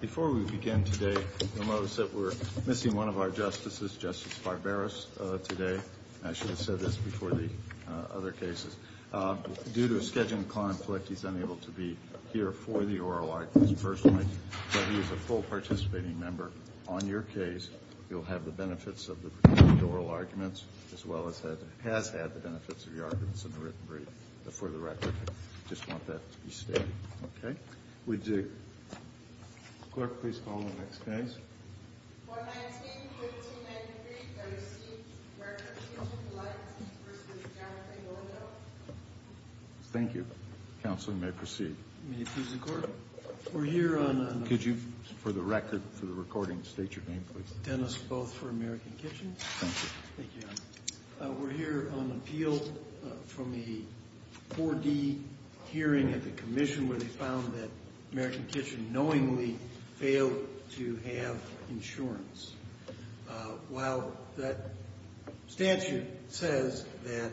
Before we begin today, we'll notice that we're missing one of our justices, Justice Barberos, today. I should have said this before the other cases. Due to a scheduling conflict, he's unable to be here for the oral arguments personally, but he is a full participating member. On your case, you'll have the benefits of the oral arguments, as well as has had the benefits of the arguments in the written brief, for the record. I just want that to be stated. Okay? Would the clerk please call the next case? 419-1593 L.C., American Kitchen Delights, Inc v. Jonathan Lowell. Thank you. Counsel may proceed. May it please the Court? We're here on... Could you, for the record, for the recording, state your name, please? Dennis Booth for American Kitchen. Thank you. We're here on appeal from the 4D hearing at the commission where they found that American Kitchen knowingly failed to have insurance. While that statute says that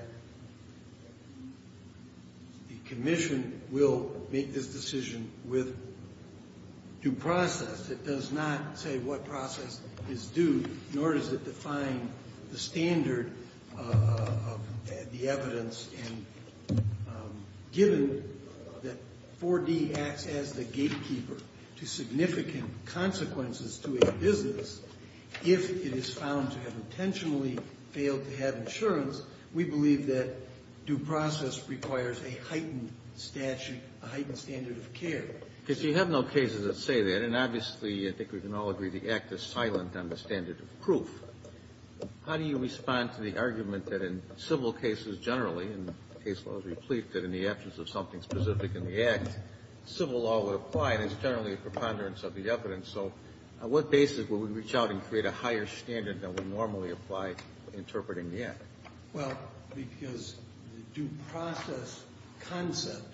the commission will make this decision with due process, it does not say what process is due, nor does it define the standard of the evidence. And given that 4D acts as the gatekeeper to significant consequences to a business, if it is found to have intentionally failed to have insurance, we believe that due process requires a heightened statute, a heightened standard of care. If you have no cases that say that, and obviously I think we can all agree the act is silent on the standard of proof, how do you respond to the argument that in civil cases generally, and the case law is replete that in the absence of something specific in the act, civil law would apply, and it's generally a preponderance of the evidence. So on what basis would we reach out and create a higher standard than would normally apply interpreting the act? Well, because due process concept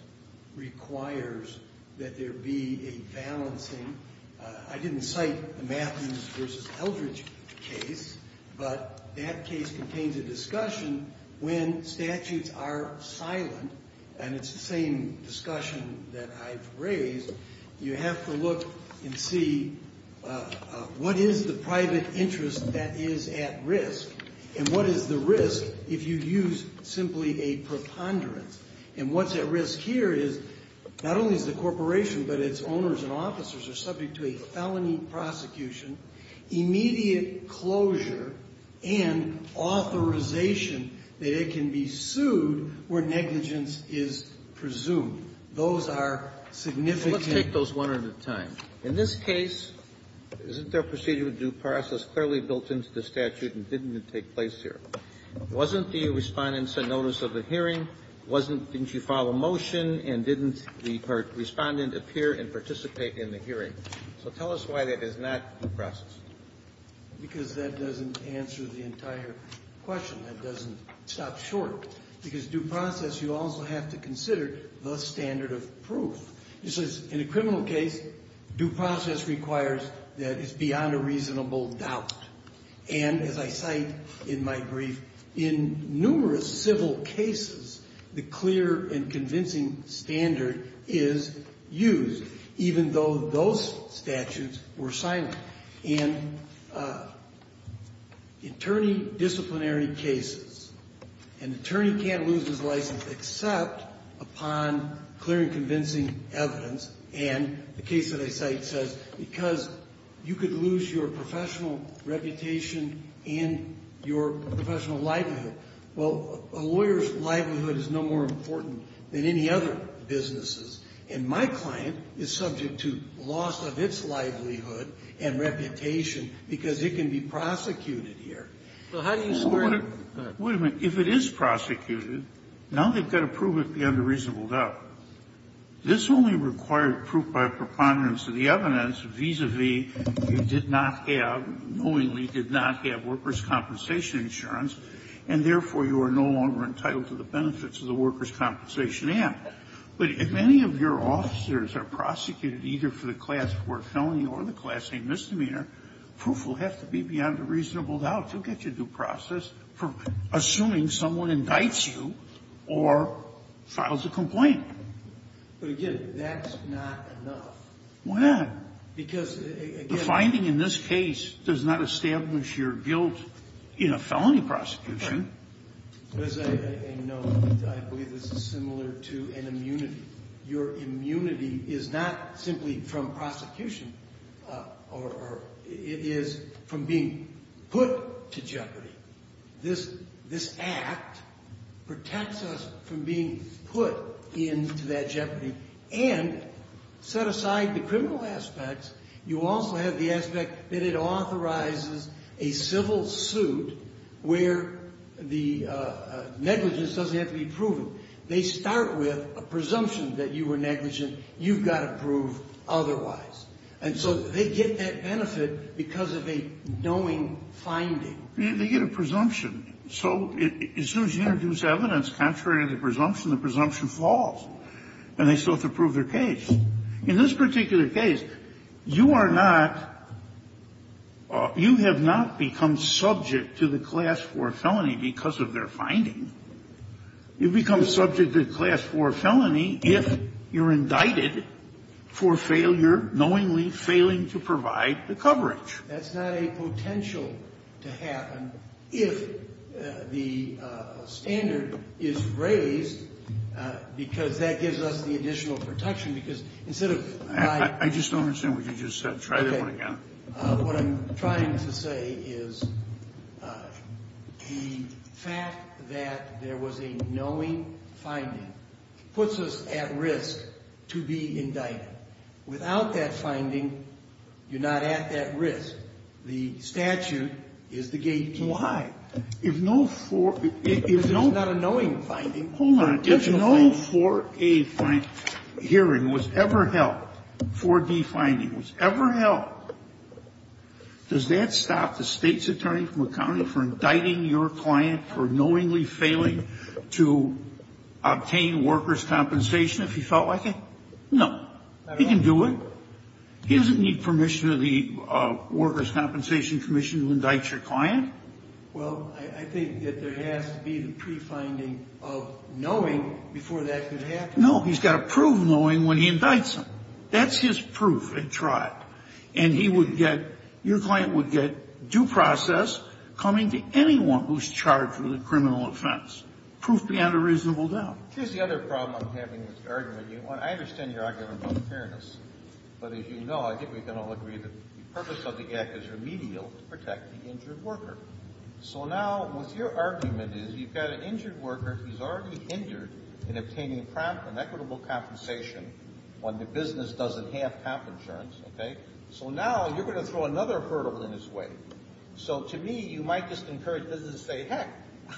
requires that there be a balancing. I didn't cite the Matthews v. Eldridge case, but that case contains a discussion. When statutes are silent, and it's the same discussion that I've raised, you have to look and see what is the private interest that is at risk, and what is the risk if you use simply a preponderance. And what's at risk here is not only is the corporation, but its owners and officers are subject to a felony prosecution, immediate closure, and authorization that it can be sued where negligence is presumed. Those are significant. Let's take those one at a time. In this case, isn't there a procedure with due process clearly built into the statute and didn't it take place here? Wasn't the Respondent sent notice of the hearing? Wasn't, didn't you file a motion, and didn't the Respondent appear and participate in the hearing? So tell us why that is not due process. Because that doesn't answer the entire question. That doesn't stop short. Because due process, you also have to consider the standard of proof. It says, in a criminal case, due process requires that it's beyond a reasonable doubt. And as I cite in my brief, in numerous civil cases, the clear and convincing standard is used, even though those statutes were silent. In attorney disciplinary cases, an attorney can't lose his license except upon clear and convincing evidence. And the case that I cite says, because you could lose your professional reputation and your professional livelihood. Well, a lawyer's livelihood is no more important than any other business's. And my client is subject to loss of its livelihood and reputation because it can be prosecuted here. So how do you square that? Wait a minute. If it is prosecuted, now they've got to prove it beyond a reasonable doubt. This only required proof by preponderance of the evidence vis-a-vis you did not have or knowingly did not have workers' compensation insurance, and therefore you are no longer entitled to the benefits of the workers' compensation act. But if any of your officers are prosecuted either for the class 4 felony or the class A misdemeanor, proof will have to be beyond a reasonable doubt to get you due process for assuming someone indicts you or files a complaint. But, again, that's not enough. Why not? Because, again the finding in this case does not establish your guilt in a felony prosecution. As I know, I believe this is similar to an immunity. Your immunity is not simply from prosecution. It is from being put to jeopardy. This act protects us from being put into that jeopardy and set aside the criminal aspects. You also have the aspect that it authorizes a civil suit where the negligence doesn't have to be proven. They start with a presumption that you were negligent. You've got to prove otherwise. And so they get that benefit because of a knowing finding. They get a presumption. So as soon as you introduce evidence contrary to the presumption, the presumption falls, and they still have to prove their case. In this particular case, you are not you have not become subject to the class 4 felony because of their finding. You become subject to class 4 felony if you're indicted for failure, knowingly failing to provide the coverage. That's not a potential to happen if the standard is raised because that gives us the additional protection, because instead of my. I just don't understand what you just said. Try that one again. What I'm trying to say is the fact that there was a knowing finding puts us at risk to be indicted. Without that finding, you're not at that risk. The statute is the gate. Why? If no for. It's not a knowing finding. Hold on. If no 4A hearing was ever held, 4D finding was ever held, does that stop the State's attorney from accounting for indicting your client for knowingly failing to obtain workers' compensation if he felt like it? No. He can do it. He doesn't need permission of the Workers' Compensation Commission to indict your client. Well, I think that there has to be the pre-finding of knowing before that could happen. No. He's got to prove knowing when he indicts him. That's his proof. It's right. And he would get – your client would get due process coming to anyone who's charged with a criminal offense. Proof beyond a reasonable doubt. Here's the other problem I'm having with your argument. I understand your argument about fairness. But as you know, I think we can all agree that the purpose of the Act is remedial to protect the injured worker. So now what your argument is, you've got an injured worker who's already hindered in obtaining prompt and equitable compensation when the business doesn't have comp insurance, okay? So now you're going to throw another hurdle in his way. So to me, you might just encourage business to say, heck,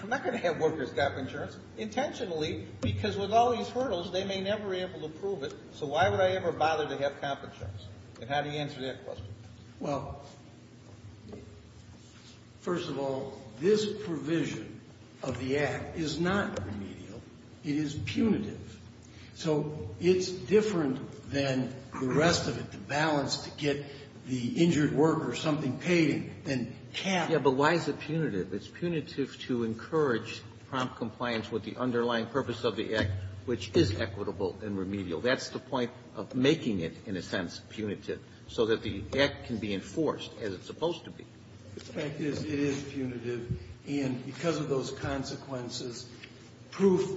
I'm not going to have workers' comp insurance intentionally because with all these hurdles, they may never be able to prove it. So why would I ever bother to have comp insurance? And how do you answer that question? Well, first of all, this provision of the Act is not remedial. It is punitive. So it's different than the rest of it, the balance to get the injured worker something paid and can't. Yeah, but why is it punitive? It's punitive to encourage prompt compliance with the underlying purpose of the Act, which is equitable and remedial. That's the point of making it, in a sense, punitive, so that the Act can be enforced as it's supposed to be. The fact is, it is punitive. And because of those consequences, proof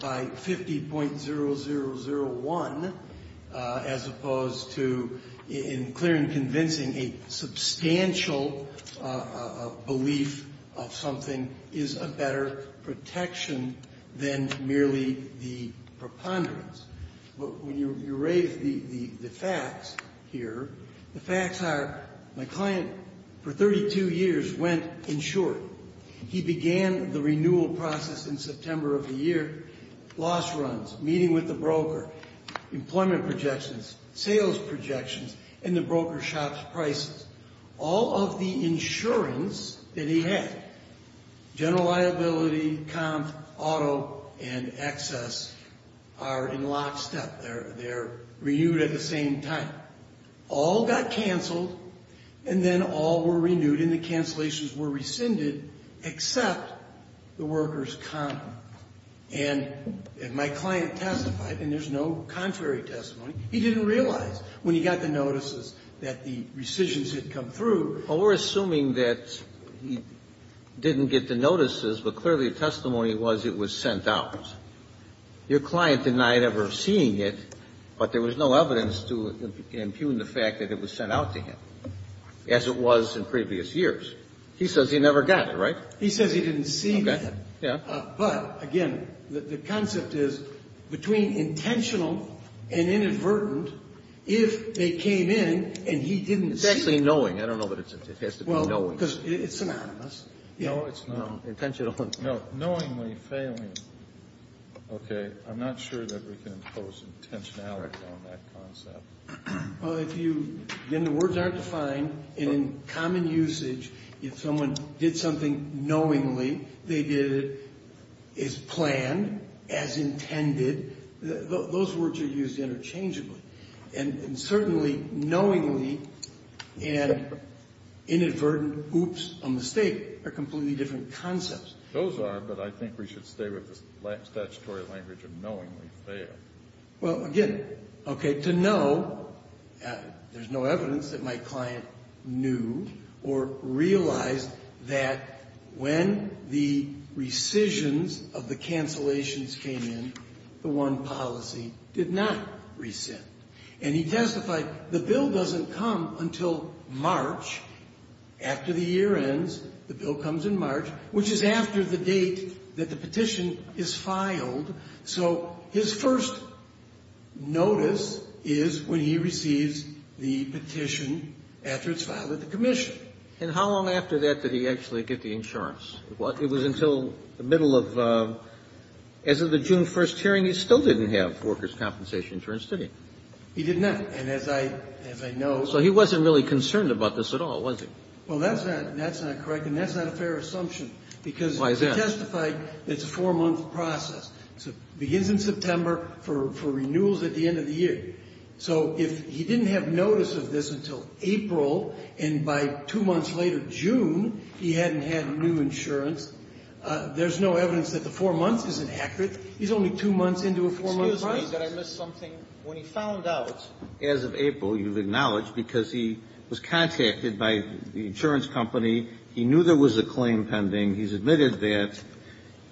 by 50.0001, as opposed to in clear and convincing a substantial belief of something, is a better protection than merely the preponderance. But when you raise the facts here, the facts are my client, for 32 years, went insured. He began the renewal process in September of the year. Loss runs, meeting with the broker, employment projections, sales projections, and the broker shop's prices. All of the insurance that he had, general liability, comp, auto, and excess, are in lockstep. They're renewed at the same time. All got canceled, and then all were renewed, and the cancellations were rescinded, except the worker's comp. And my client testified, and there's no contrary testimony, he didn't realize when he got the through. Well, we're assuming that he didn't get the notices, but clearly the testimony was it was sent out. Your client denied ever seeing it, but there was no evidence to impugn the fact that it was sent out to him, as it was in previous years. He says he never got it, right? He says he didn't see it. Okay. Yeah. But, again, the concept is between intentional and inadvertent, if they came in and he didn't see it. It's actually knowing. I don't know that it has to be knowing. Well, because it's synonymous. No, it's not. Intentional. No, knowingly failing. Okay. I'm not sure that we can impose intentionality on that concept. Well, if you, then the words aren't defined, and in common usage, if someone did something knowingly, they did it as planned, as intended, those words are used interchangeably. And certainly knowingly and inadvertent, oops, a mistake, are completely different concepts. Those are, but I think we should stay with the statutory language of knowingly fail. Well, again, okay, to know, there's no evidence that my client knew or realized that when the rescissions of the cancellations came in, the one policy did not rescind. And he testified the bill doesn't come until March, after the year ends, the bill comes in March, which is after the date that the petition is filed. So his first notice is when he receives the petition after it's filed at the commission. And how long after that did he actually get the insurance? It was until the middle of, as of the June 1st hearing, he still didn't have workers' compensation for institution. He did not. And as I know. So he wasn't really concerned about this at all, was he? Well, that's not correct, and that's not a fair assumption. Why is that? Because he testified it's a four-month process. It begins in September for renewals at the end of the year. So if he didn't have notice of this until April, and by two months later, June, he hadn't had new insurance, there's no evidence that the four months isn't accurate. He's only two months into a four-month process. Excuse me. Did I miss something? When he found out, as of April, you've acknowledged, because he was contacted by the insurance company. He knew there was a claim pending. He's admitted that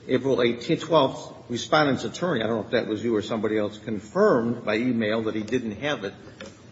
April 12th, Respondent's attorney, I don't know if that was you or somebody else, confirmed by e-mail that he didn't have it.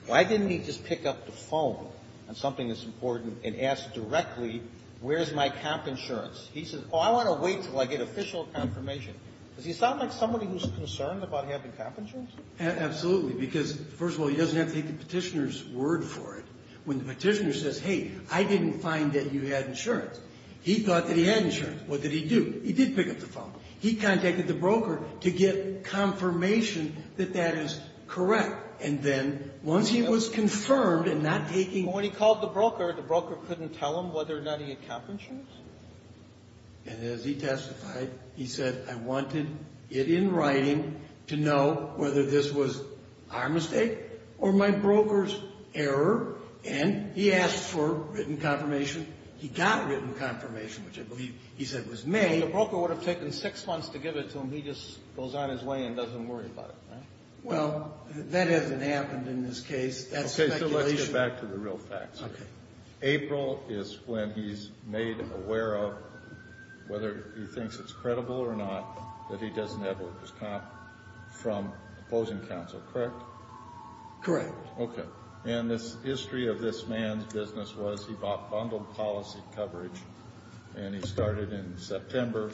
Why didn't he just pick up the phone on something that's important and ask directly, where's my comp insurance? He says, oh, I want to wait until I get official confirmation. Does he sound like somebody who's concerned about having comp insurance? Absolutely. Because, first of all, he doesn't have to take the Petitioner's word for it. When the Petitioner says, hey, I didn't find that you had insurance, he thought that he had insurance. What did he do? He did pick up the phone. He contacted the broker to get confirmation that that is correct. And then once he was confirmed in not taking the Petitioner's word for it, the broker couldn't tell him whether or not he had comp insurance? And as he testified, he said, I wanted it in writing to know whether this was our mistake or my broker's error. And he asked for written confirmation. He got written confirmation, which I believe he said was made. The broker would have taken six months to give it to him. He just goes on his way and doesn't worry about it, right? Well, that hasn't happened in this case. That's speculation. Okay, so let's get back to the real facts here. Okay. April is when he's made aware of, whether he thinks it's credible or not, that he doesn't have what was comp from opposing counsel, correct? Correct. Okay. And the history of this man's business was he bought bundled policy coverage, and he started in September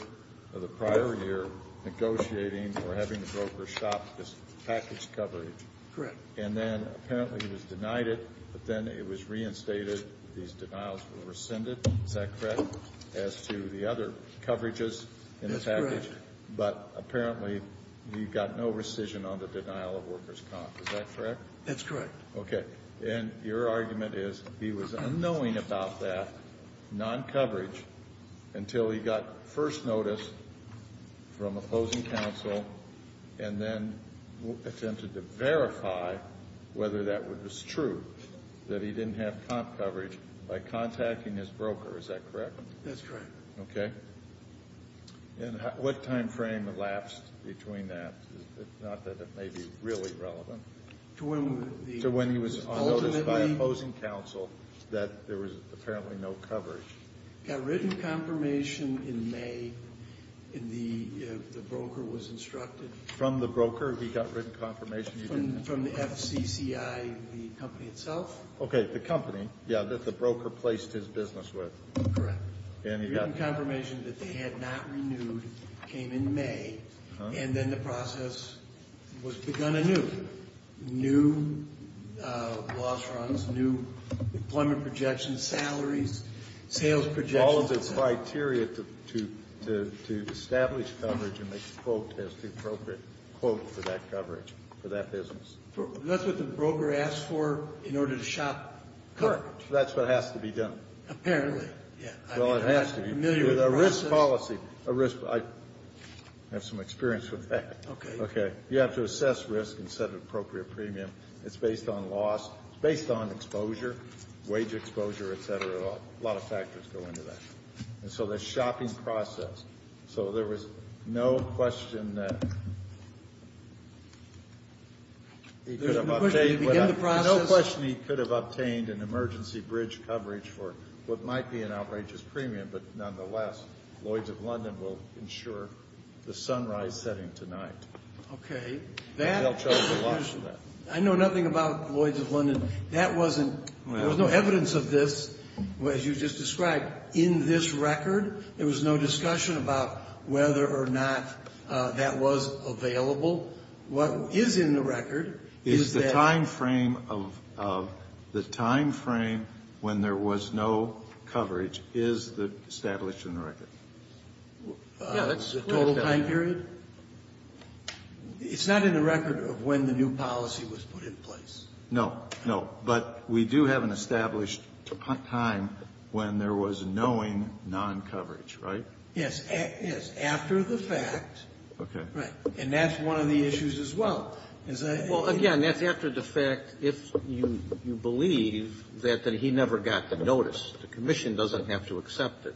of the prior year negotiating or having the broker shop this package coverage. Correct. And then apparently he was denied it, but then it was reinstated. These denials were rescinded. Is that correct? As to the other coverages in the package. That's correct. But apparently he got no rescission on the denial of workers' comp. Is that correct? That's correct. Okay. And your argument is he was unknowing about that non-coverage until he got first notice from opposing counsel and then attempted to verify whether that was true, that he didn't have comp coverage by contacting his broker. Is that correct? That's correct. Okay. And what time frame elapsed between that, not that it may be really relevant? To when he was unnoticed by opposing counsel that there was apparently no coverage. He got written confirmation in May, and the broker was instructed. From the broker he got written confirmation? From the FCCI, the company itself. Okay. The company, yeah, that the broker placed his business with. Correct. And he got. Written confirmation that they had not renewed came in May, And then the process was begun anew. New loss runs, new employment projections, salaries, sales projections. All of the criteria to establish coverage and make the quote as the appropriate quote for that coverage, for that business. That's what the broker asked for in order to shop coverage. Correct. That's what has to be done. Apparently, yeah. Well, it has to be. With a risk policy. A risk. I have some experience with that. Okay. You have to assess risk and set an appropriate premium. It's based on loss. It's based on exposure, wage exposure, et cetera. A lot of factors go into that. And so the shopping process. So there was no question that he could have obtained. No question he could have obtained an emergency bridge coverage for what might be an outrageous premium. But nonetheless, Lloyd's of London will ensure the sunrise setting tonight. Okay. They'll charge a lot for that. I know nothing about Lloyd's of London. There was no evidence of this, as you just described, in this record. There was no discussion about whether or not that was available. What is in the record is that. The time frame of the time frame when there was no coverage is established in the record. Yeah. That's the total time period. It's not in the record of when the new policy was put in place. No. No. But we do have an established time when there was knowing noncoverage, right? Yes. Yes. After the fact. Okay. Right. And that's one of the issues as well. Well, again, that's after the fact if you believe that he never got the notice. The commission doesn't have to accept it.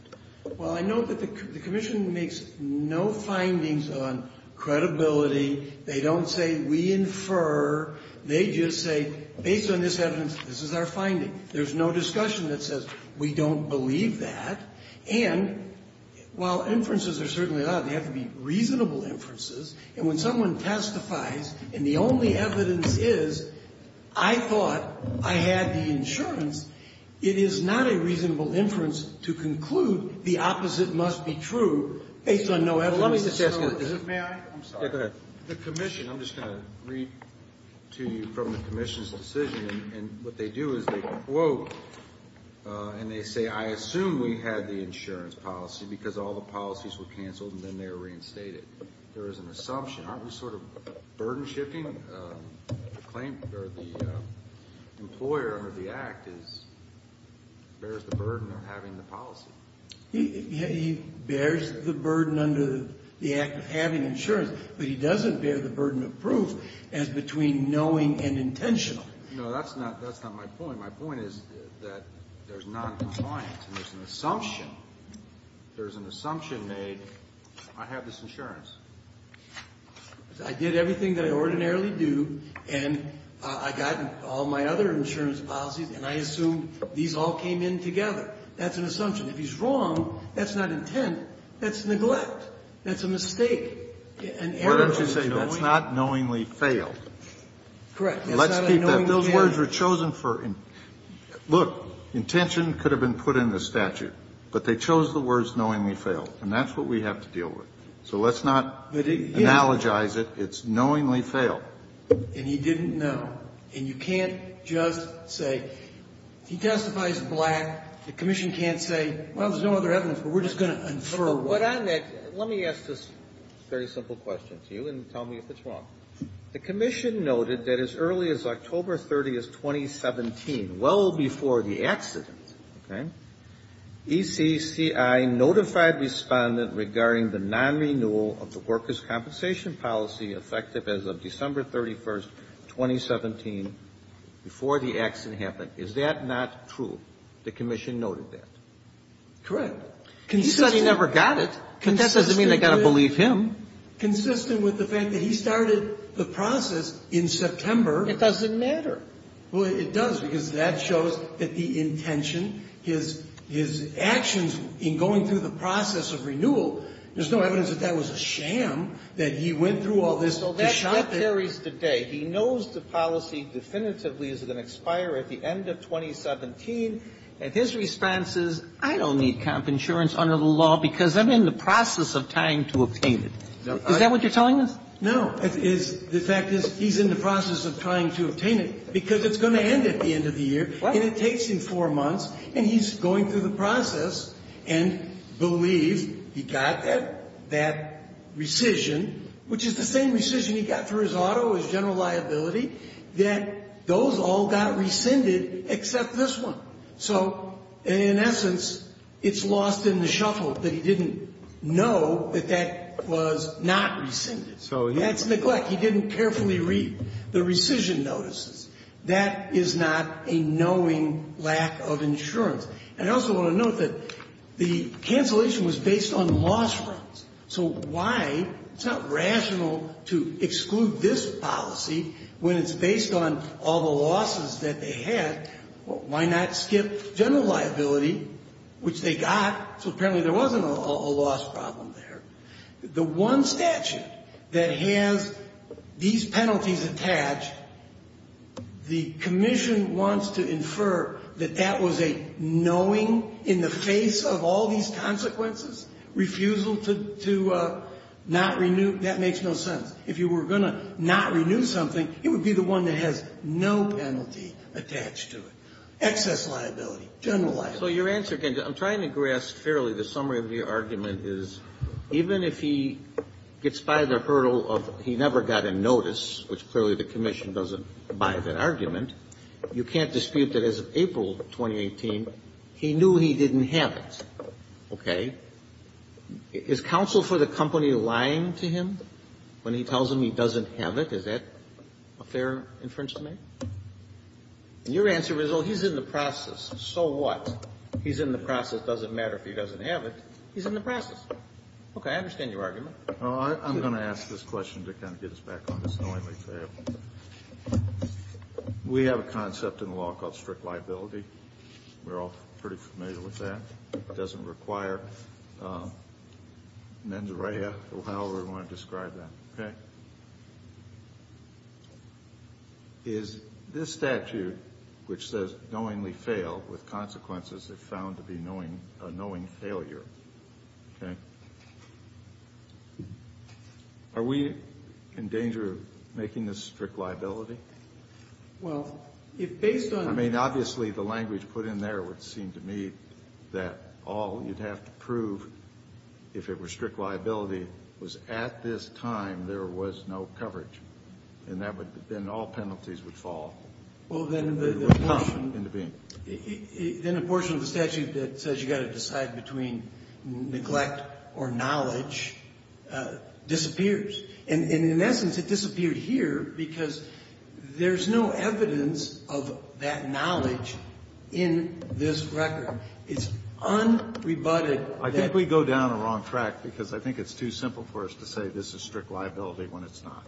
Well, I know that the commission makes no findings on credibility. They don't say we infer. They just say, based on this evidence, this is our finding. There's no discussion that says we don't believe that. And while inferences are certainly allowed, they have to be reasonable inferences. And when someone testifies and the only evidence is I thought I had the insurance, it is not a reasonable inference to conclude the opposite must be true based on no evidence. Let me just ask you a question. May I? I'm sorry. Yeah, go ahead. The commission, I'm just going to read to you from the commission's decision. And what they do is they quote and they say, I assume we had the insurance policy because all the policies were canceled and then they were reinstated. There is an assumption. Aren't we sort of burden shifting? The claim or the employer under the Act bears the burden of having the policy. He bears the burden under the Act of having insurance, but he doesn't bear the burden of proof as between knowing and intentional. No, that's not my point. My point is that there's noncompliance and there's an assumption. There's an assumption made, I have this insurance. I did everything that I ordinarily do and I got all my other insurance policies and I assume these all came in together. That's an assumption. If he's wrong, that's not intent. That's neglect. That's a mistake. Why don't you say that's not knowingly failed? Correct. Let's keep that. Those words were chosen for intention. Look, intention could have been put in the statute. But they chose the words knowingly failed. And that's what we have to deal with. So let's not analogize it. It's knowingly failed. And he didn't know. And you can't just say he testifies black. The commission can't say, well, there's no other evidence. But we're just going to infer. Let me ask this very simple question to you and tell me if it's wrong. The commission noted that as early as October 30th, 2017, well before the accident, ECCI notified Respondent regarding the non-renewal of the workers' compensation policy effective as of December 31st, 2017, before the accident happened. Is that not true? The commission noted that. Correct. He said he never got it. But that doesn't mean I've got to believe him. Consistent with the fact that he started the process in September. It doesn't matter. Well, it does, because that shows that the intention, his actions in going through the process of renewal, there's no evidence that that was a sham, that he went through all this. So that carries today. He knows the policy definitively is going to expire at the end of 2017. And his response is, I don't need comp insurance under the law because I'm in the process of trying to obtain it. Is that what you're telling us? No. The fact is, he's in the process of trying to obtain it because it's going to end at the end of the year, and it takes him four months, and he's going through the process and believes he got that rescission, which is the same rescission he got for his auto, his general liability, that those all got rescinded except this one. So in essence, it's lost in the shuffle that he didn't know that that was not rescinded. So that's neglect. He didn't carefully read the rescission notices. That is not a knowing lack of insurance. And I also want to note that the cancellation was based on loss rates. So why? It's not rational to exclude this policy when it's based on all the losses that they had. Why not skip general liability, which they got? So apparently there wasn't a loss problem there. The one statute that has these penalties attached, the commission wants to infer that that was a knowing in the face of all these consequences, refusal to not renew that makes no sense. If you were going to not renew something, it would be the one that has no penalty attached to it. Excess liability, general liability. So your answer again, I'm trying to grasp fairly the summary of your argument is even if he gets by the hurdle of he never got a notice, which clearly the commission doesn't buy that argument, you can't dispute that as of April 2018, he knew he didn't have it. Okay? Is counsel for the company lying to him when he tells him he doesn't have it? Is that a fair inference to make? And your answer is, well, he's in the process. So what? He's in the process. It doesn't matter if he doesn't have it. He's in the process. Okay. I understand your argument. Kennedy. Well, I'm going to ask this question to kind of get us back on this knowingly trail. We have a concept in the law called strict liability. We're all pretty familiar with that. It doesn't require mens rea. However you want to describe that. Okay? Is this statute, which says knowingly fail with consequences that are found to be knowing failure. Okay? Are we in danger of making this strict liability? Well, if based on. I mean, obviously the language put in there would seem to me that all you'd have to is at this time there was no coverage. And then all penalties would fall. Well, then the portion of the statute that says you've got to decide between neglect or knowledge disappears. And in essence, it disappeared here because there's no evidence of that knowledge in this record. It's unrebutted. I think we go down the wrong track because I think it's too simple for us to say this is strict liability when it's not.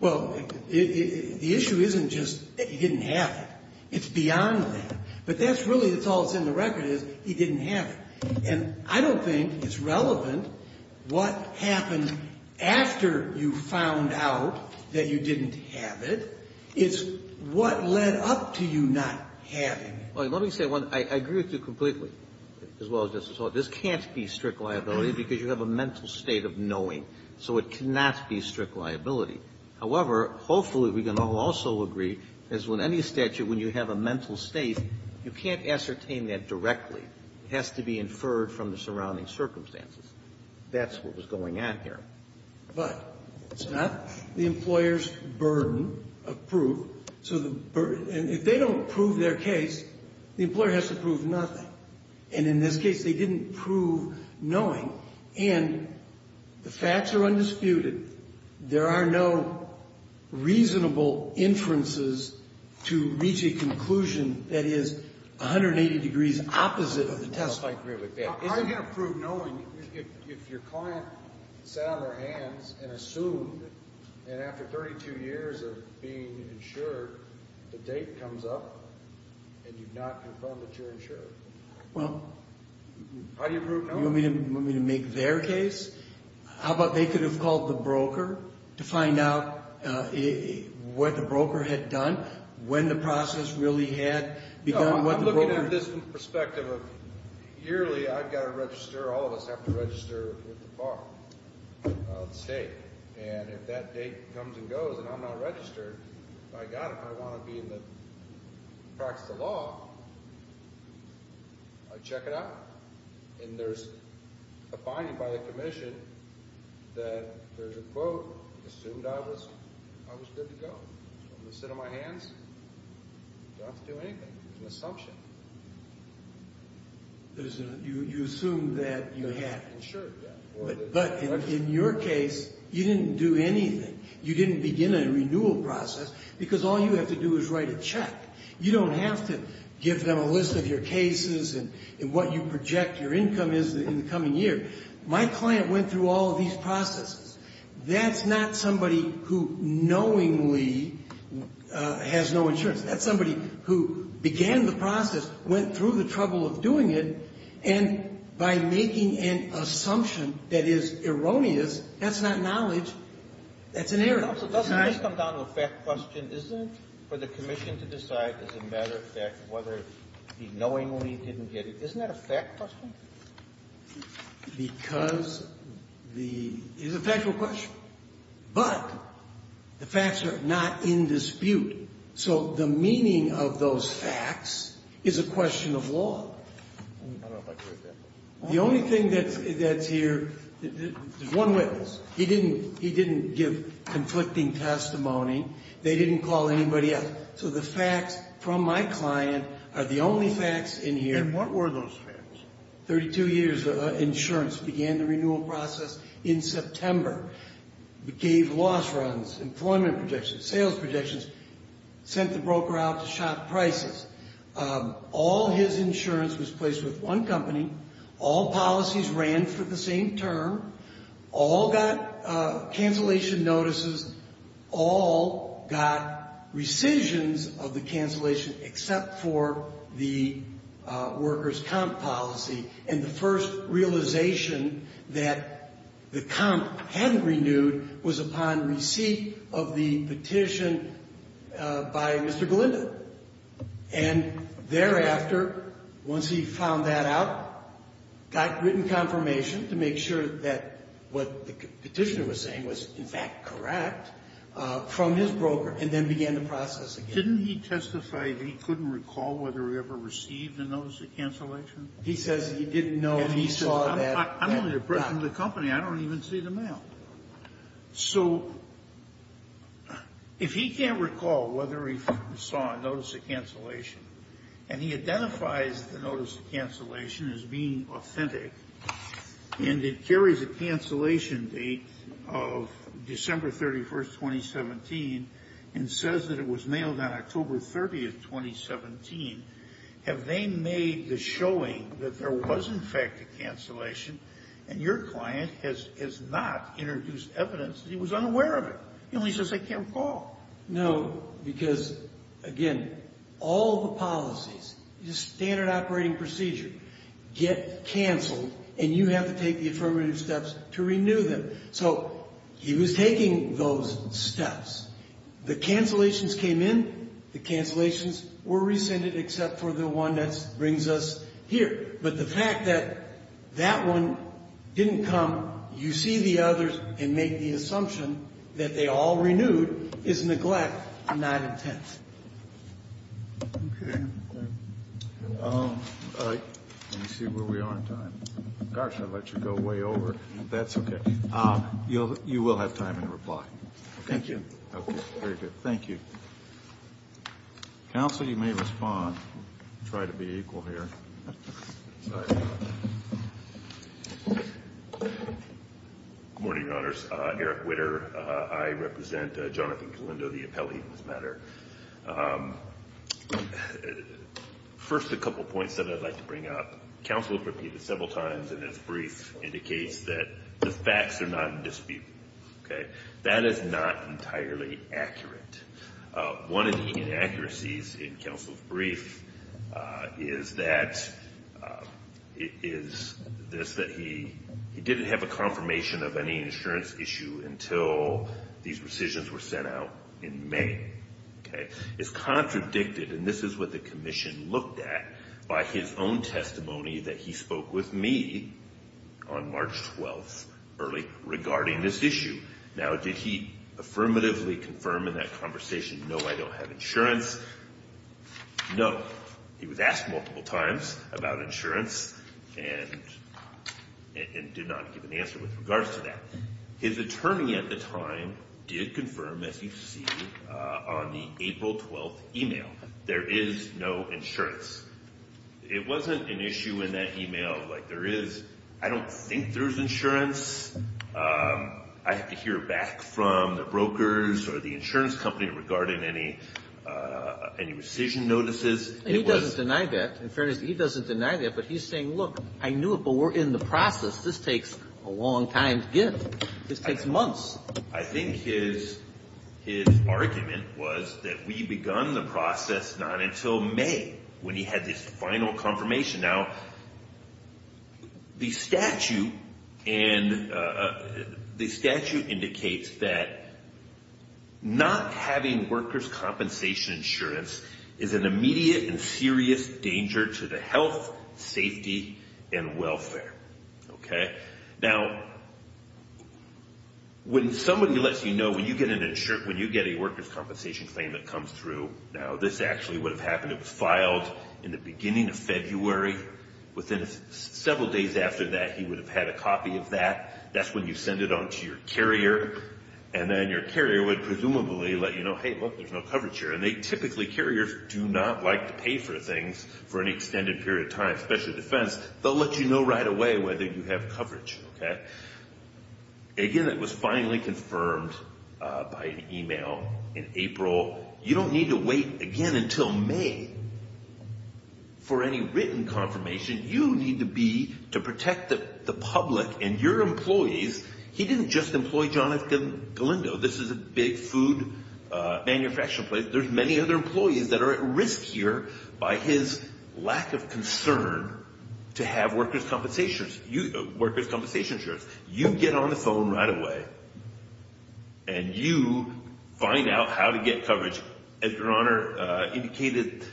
Well, the issue isn't just that you didn't have it. It's beyond that. But that's really all that's in the record is you didn't have it. And I don't think it's relevant what happened after you found out that you didn't have it. It's what led up to you not having it. Well, let me say one thing. I agree with you completely, as well as Justice Sotomayor. This can't be strict liability because you have a mental state of knowing. So it cannot be strict liability. However, hopefully we can all also agree is when any statute, when you have a mental state, you can't ascertain that directly. It has to be inferred from the surrounding circumstances. That's what was going on here. But it's not the employer's burden of proof. And if they don't prove their case, the employer has to prove nothing. And in this case, they didn't prove knowing. And the facts are undisputed. There are no reasonable inferences to reach a conclusion that is 180 degrees opposite of the testimony. I agree with that. How are you going to prove knowing if your client sat on their hands and assumed it, and after 32 years of being insured, the date comes up and you've not confirmed that you're insured? Well, you want me to make their case? How about they could have called the broker to find out what the broker had done, when the process really had begun. I'm looking at it from the perspective of yearly, I've got to register, all of us have to register with the bar, the state. And if that date comes and goes and I'm not registered, by God, if I want to be in the practice of law, I check it out. And there's a finding by the commission that there's a quote, assumed I was good to go. I'm going to sit on my hands, don't have to do anything. It's an assumption. You assumed that you had. Insured, yeah. But in your case, you didn't do anything. You didn't begin a renewal process, because all you have to do is write a check. You don't have to give them a list of your cases and what you project your income is in the coming year. My client went through all of these processes. That's not somebody who knowingly has no insurance. That's somebody who began the process, went through the trouble of doing it, and by making an assumption that is erroneous, that's not knowledge. That's an error. It's not an error. It doesn't just come down to a fact question, does it, for the commission to decide as a matter of fact whether he knowingly didn't get it? Isn't that a fact question? Because the – it's a factual question. But the facts are not in dispute. So the meaning of those facts is a question of law. The only thing that's here – there's one witness. He didn't give conflicting testimony. They didn't call anybody else. So the facts from my client are the only facts in here. And what were those facts? Thirty-two years of insurance. Began the renewal process in September. Gave loss runs, employment projections, sales projections. Sent the broker out to shop prices. All his insurance was placed with one company. All policies ran for the same term. All got cancellation notices. All got rescissions of the cancellation except for the workers' comp policy. And the first realization that the comp hadn't renewed was upon receipt of the petition by Mr. Galinda. And thereafter, once he found that out, got written confirmation to make sure that what the petitioner was saying was, in fact, correct from his broker, and then began the process again. Didn't he testify that he couldn't recall whether he ever received a notice of cancellation? He says he didn't know if he saw that. I'm only the president of the company. I don't even see the mail. So if he can't recall whether he saw a notice of cancellation, and he identifies the notice of cancellation as being authentic, and it carries a cancellation date of December 31, 2017, and says that it was mailed on October 30, 2017, have they made the showing that there was, in fact, a cancellation, and your client has not introduced evidence that he was unaware of it? He only says I can't recall. No, because, again, all the policies, standard operating procedure, get canceled, and you have to take the affirmative steps to renew them. So he was taking those steps. The cancellations came in. The cancellations were rescinded except for the one that brings us here. But the fact that that one didn't come, you see the others and make the assumption that they all renewed is neglect, not intent. Kennedy. Let me see where we are in time. Gosh, I let you go way over. That's okay. You will have time in reply. Thank you. Okay. Thank you. Counsel, you may respond. Try to be equal here. Good morning, Your Honors. Eric Witter. I represent Jonathan Kalindo, the appellee in this matter. First, a couple points that I'd like to bring up. Counsel has repeated several times in his brief indicates that the facts are not in dispute. That is not entirely accurate. One of the inaccuracies in Counsel's brief is that he didn't have a confirmation of any insurance issue until these rescissions were sent out in May. It's contradicted, and this is what the commission looked at, by his own testimony that he spoke with me on March 12th early regarding this issue. Now, did he affirmatively confirm in that conversation, no, I don't have insurance? No. He was asked multiple times about insurance and did not give an answer with regards to that. His attorney at the time did confirm, as you see on the April 12th email, there is no insurance. It wasn't an issue in that email. Like, there is, I don't think there's insurance. I have to hear back from the brokers or the insurance company regarding any rescission notices. He doesn't deny that. In fairness, he doesn't deny that, but he's saying, look, I knew it, but we're in the process. This takes a long time to get. This takes months. I think his argument was that we begun the process not until May when he had this final confirmation. Now, the statute indicates that not having workers' compensation insurance is an immediate and serious danger to the health, safety, and welfare. Now, when somebody lets you know, when you get a workers' compensation claim that comes through, now, this actually would have happened. It was filed in the beginning of February. Within several days after that, he would have had a copy of that. That's when you send it on to your carrier, and then your carrier would presumably let you know, hey, look, there's no coverage here. And typically, carriers do not like to pay for things for an extended period of time, especially defense. They'll let you know right away whether you have coverage. Again, it was finally confirmed by an email in April. You don't need to wait, again, until May for any written confirmation. You need to be to protect the public and your employees. He didn't just employ Jonathan Galindo. This is a big food manufacturing place. There's many other employees that are at risk here by his lack of concern to have workers' compensation insurance. You get on the phone right away, and you find out how to get coverage. As Your Honor indicated,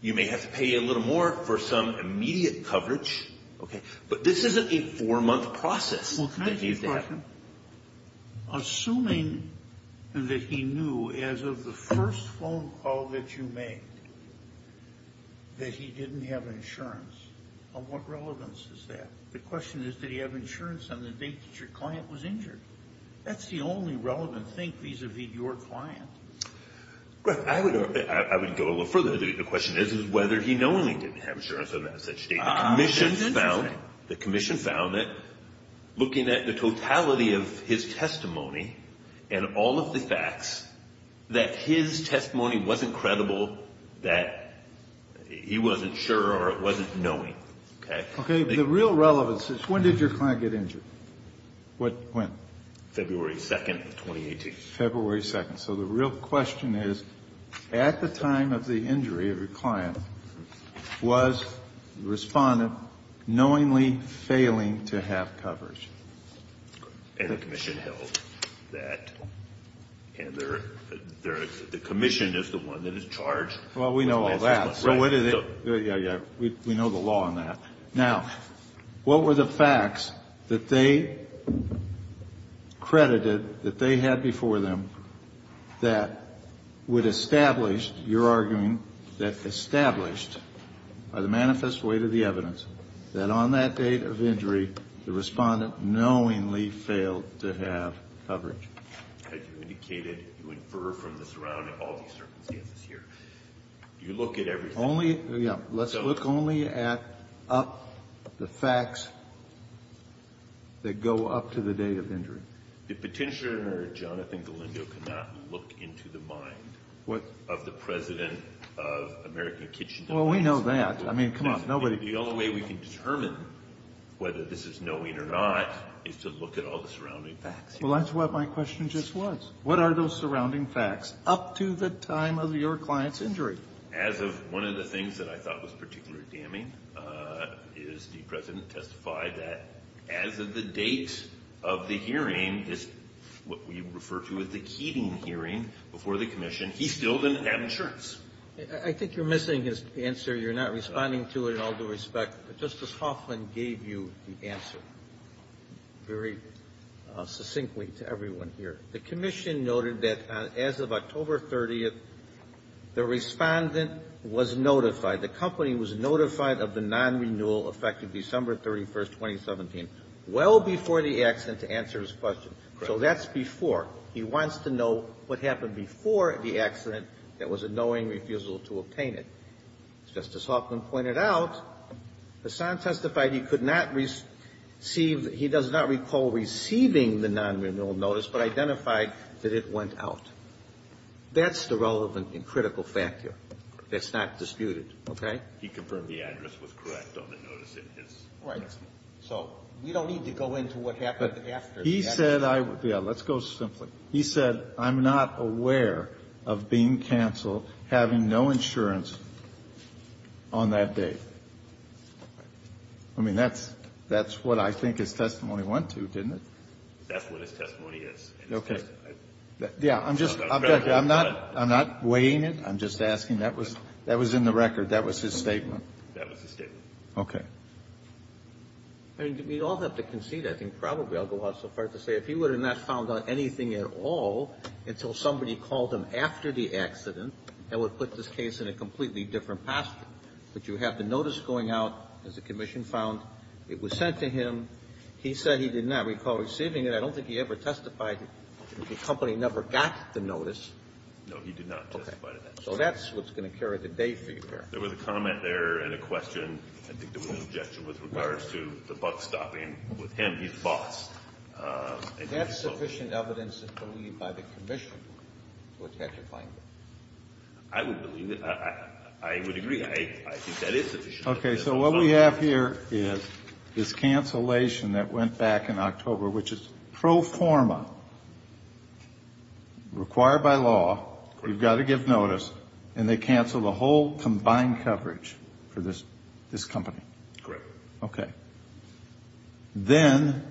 you may have to pay a little more for some immediate coverage. But this isn't a four-month process. Well, can I ask you a question? Assuming that he knew, as of the first phone call that you made, that he didn't have insurance, of what relevance is that? The question is, did he have insurance on the date that your client was injured? That's the only relevant thing vis-a-vis your client. I would go a little further. The question is whether he knowingly didn't have insurance on that such date. That's interesting. The commission found that, looking at the totality of his testimony and all of the facts, that his testimony wasn't credible, that he wasn't sure or wasn't knowing. Okay. The real relevance is, when did your client get injured? When? February 2nd of 2018. February 2nd. So the real question is, at the time of the injury of your client, was the respondent knowingly failing to have coverage? And the commission held that. And the commission is the one that is charged. Well, we know all that. Yeah, yeah. We know the law on that. Now, what were the facts that they credited, that they had before them, that would establish, you're arguing, that established by the manifest weight of the evidence, that on that date of injury, the respondent knowingly failed to have coverage? As you indicated, you infer from the surrounding, all these circumstances here. You look at everything. Only, yeah, let's look only at the facts that go up to the day of injury. The Petitioner, Jonathan Galindo, cannot look into the mind of the President of American Kitchen. Well, we know that. I mean, come on. The only way we can determine whether this is knowing or not is to look at all the surrounding facts. Well, that's what my question just was. What are those surrounding facts up to the time of your client's injury? As of one of the things that I thought was particularly damning is the President testified that as of the date of the hearing, what we refer to as the Keating hearing before the Commission, he still didn't have insurance. I think you're missing his answer. You're not responding to it in all due respect. But Justice Hoffman gave you the answer very succinctly to everyone here. The Commission noted that as of October 30th, the Respondent was notified, the company was notified of the non-renewal effective December 31st, 2017, well before the accident to answer his question. So that's before. He wants to know what happened before the accident that was a knowing refusal to obtain it. As Justice Hoffman pointed out, Hassan testified he could not receive he does not recall receiving the non-renewal notice, but identified that it went out. That's the relevant and critical factor. That's not disputed. Okay? He confirmed the address was correct on the notice in his testimony. Right. So we don't need to go into what happened after the accident. He said I would. Yeah, let's go simply. He said I'm not aware of being canceled, having no insurance on that date. I mean, that's what I think his testimony went to, didn't it? That's what his testimony is. Okay. Yeah. I'm not weighing it. I'm just asking. That was in the record. That was his statement. That was his statement. Okay. I mean, we all have to concede. I think probably I'll go out so far as to say if he would have not found out anything at all until somebody called him after the accident, that would put this case in a completely different posture. But you have the notice going out as the commission found. It was sent to him. He said he did not recall receiving it. I don't think he ever testified. The company never got the notice. No, he did not testify to that. Okay. So that's what's going to carry the day for you there. There was a comment there and a question. I think there was a suggestion with regards to the buck stopping with him. He's boss. That's sufficient evidence, I believe, by the commission to attach a fine. I would believe that. I would agree. I think that is sufficient. Okay. So what we have here is this cancellation that went back in October, which is pro forma, required by law. Correct. You've got to give notice. And they canceled the whole combined coverage for this company. Correct. Okay. Then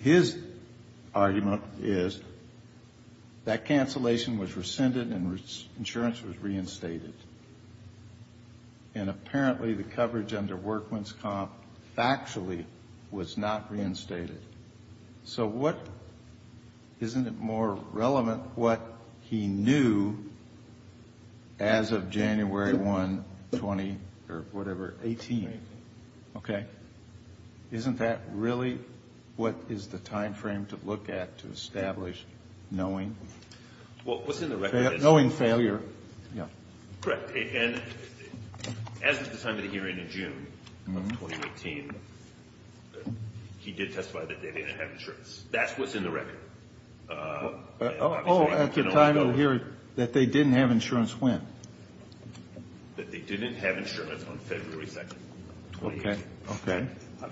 his argument is that cancellation was rescinded and insurance was reinstated. And apparently the coverage under Workman's Comp factually was not reinstated. So what isn't it more relevant what he knew as of January 1, 20 or whatever, 18? Okay. Isn't that really what is the time frame to look at to establish knowing? Well, what's in the record is. Knowing failure. Yeah. Correct. As of the time of the hearing in June of 2018, he did testify that they didn't have insurance. That's what's in the record. Oh, at the time of the hearing, that they didn't have insurance when? That they didn't have insurance on February 2, 2018. Okay. Okay. I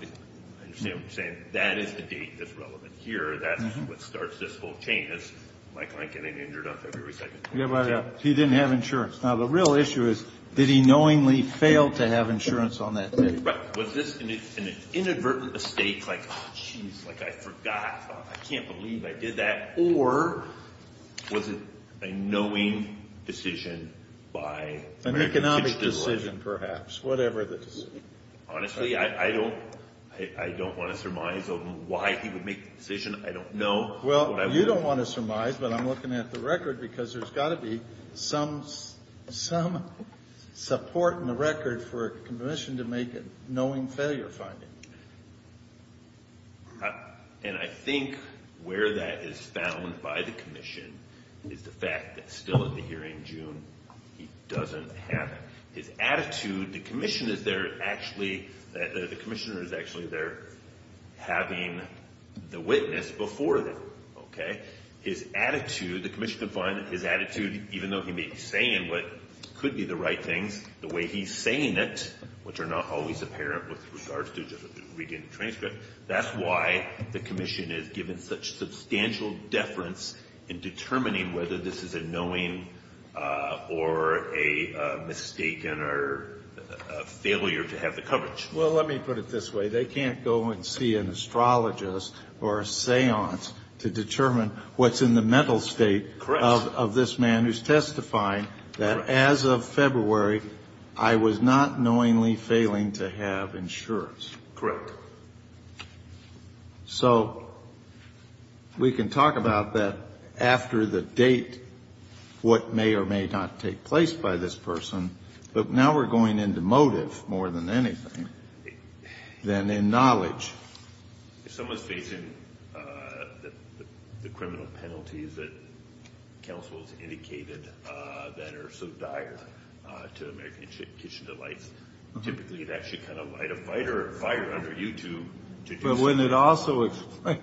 understand what you're saying. That is the date that's relevant here. That's what starts this whole chain, is my client getting injured on February 2. Yeah, but he didn't have insurance. Now, the real issue is, did he knowingly fail to have insurance on that date? Right. Was this an inadvertent mistake, like, oh, jeez, like I forgot, I can't believe I did that, or was it a knowing decision by? An economic decision, perhaps, whatever the decision. Honestly, I don't want to surmise on why he would make the decision. I don't know. Well, you don't want to surmise, but I'm looking at the record, because there's got to be some support in the record for a commission to make a knowing failure finding. And I think where that is found by the commission is the fact that still at the hearing in June, he doesn't have it. His attitude, the commission is there actually, the commissioner is actually there having the witness before them, okay? His attitude, the commission can find his attitude, even though he may be saying what could be the right things, the way he's saying it, which are not always apparent with regards to just reading the transcript, that's why the commission is given such substantial deference in determining whether this is a knowing or a mistaken or a failure to have the coverage. Well, let me put it this way. They can't go and see an astrologist or a seance to determine what's in the mental state of this man who's testifying that, as of February, I was not knowingly failing to have insurance. Correct. So we can talk about that after the date, what may or may not take place by this person, but now we're going into motive more than anything, than in knowledge. If someone's facing the criminal penalties that counsel has indicated that are so dire to American kitchen delights, typically that should kind of light a fire under you to do something. But wouldn't it also explain,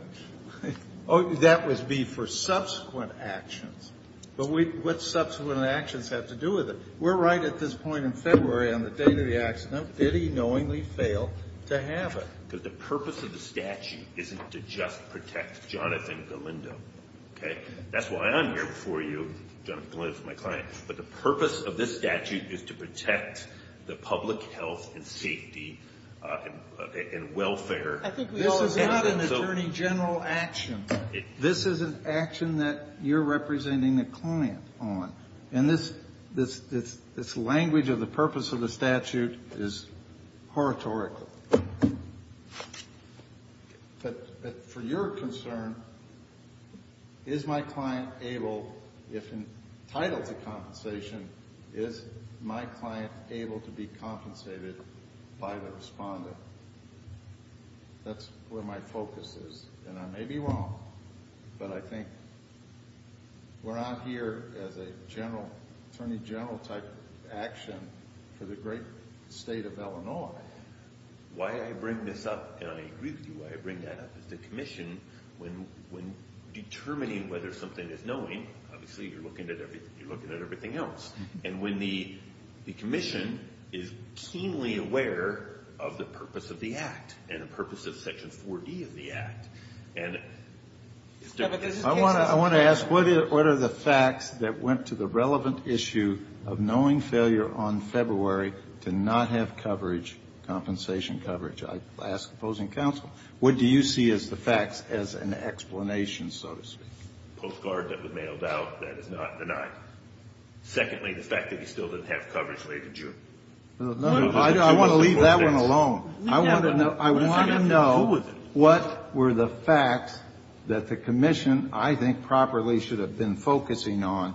oh, that would be for subsequent actions, but what subsequent actions have to do with it? We're right at this point in February on the date of the accident. Did he knowingly fail to have it? Because the purpose of the statute isn't to just protect Jonathan Galindo, okay? That's why I'm here before you, Jonathan Galindo is my client, but the purpose of this statute is to protect the public health and safety and welfare. This is not an attorney general action. This is an action that you're representing a client on. And this language of the purpose of the statute is oratorical. But for your concern, is my client able, if entitled to compensation, is my client able to be compensated by the respondent? That's where my focus is, and I may be wrong, but I think we're out here as an attorney general type action for the great state of Illinois. Why I bring this up, and I agree with you, why I bring that up is the commission, when determining whether something is knowing, obviously you're looking at everything else, and when the commission is keenly aware of the purpose of the act and the purpose of Section 4D of the act, I want to ask, what are the facts that went to the relevant issue of knowing failure on February to not have coverage, compensation coverage? I ask opposing counsel, what do you see as the facts, as an explanation, so to speak? Postcard that was mailed out, that is not denied. Secondly, the fact that he still didn't have coverage later June. No, no, I want to leave that one alone. I want to know what were the facts that the commission, I think, properly should have been focusing on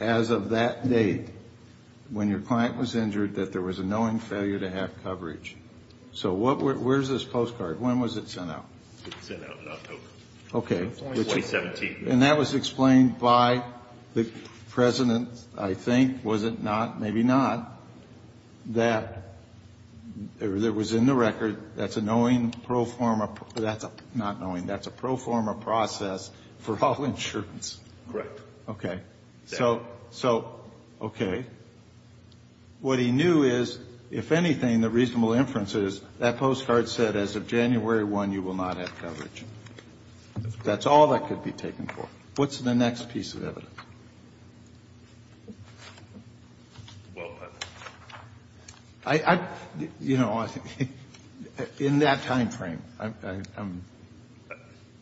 as of that date, when your client was injured, that there was a knowing failure to have coverage. So where's this postcard? When was it sent out? It was sent out in October. Okay. 2017. And that was explained by the President, I think, was it not, maybe not, that there was in the record, that's a knowing pro forma, not knowing, that's a pro forma process for all insurance. Correct. Okay. So, okay. What he knew is, if anything, the reasonable inference is, that postcard said as of January 1, you will not have coverage. That's all that could be taken for. What's the next piece of evidence? Well, I, you know, in that time frame, I'm,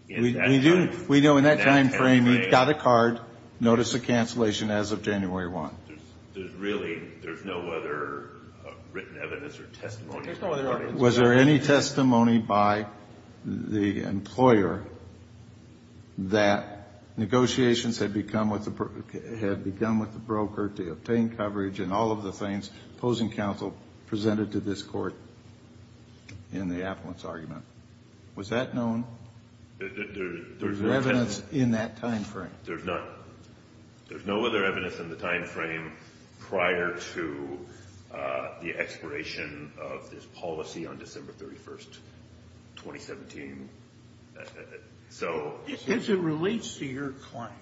we do, we know in that time frame he got a card, noticed a cancellation as of January 1. There's really, there's no other written evidence or testimony. Was there any testimony by the employer that negotiations had become with the broker to obtain coverage and all of the things opposing counsel presented to this court in the appellant's argument? Was that known? There's no evidence in that time frame. There's not, there's no other evidence in the time frame prior to the expiration of this policy on December 31, 2017. So. As it relates to your client,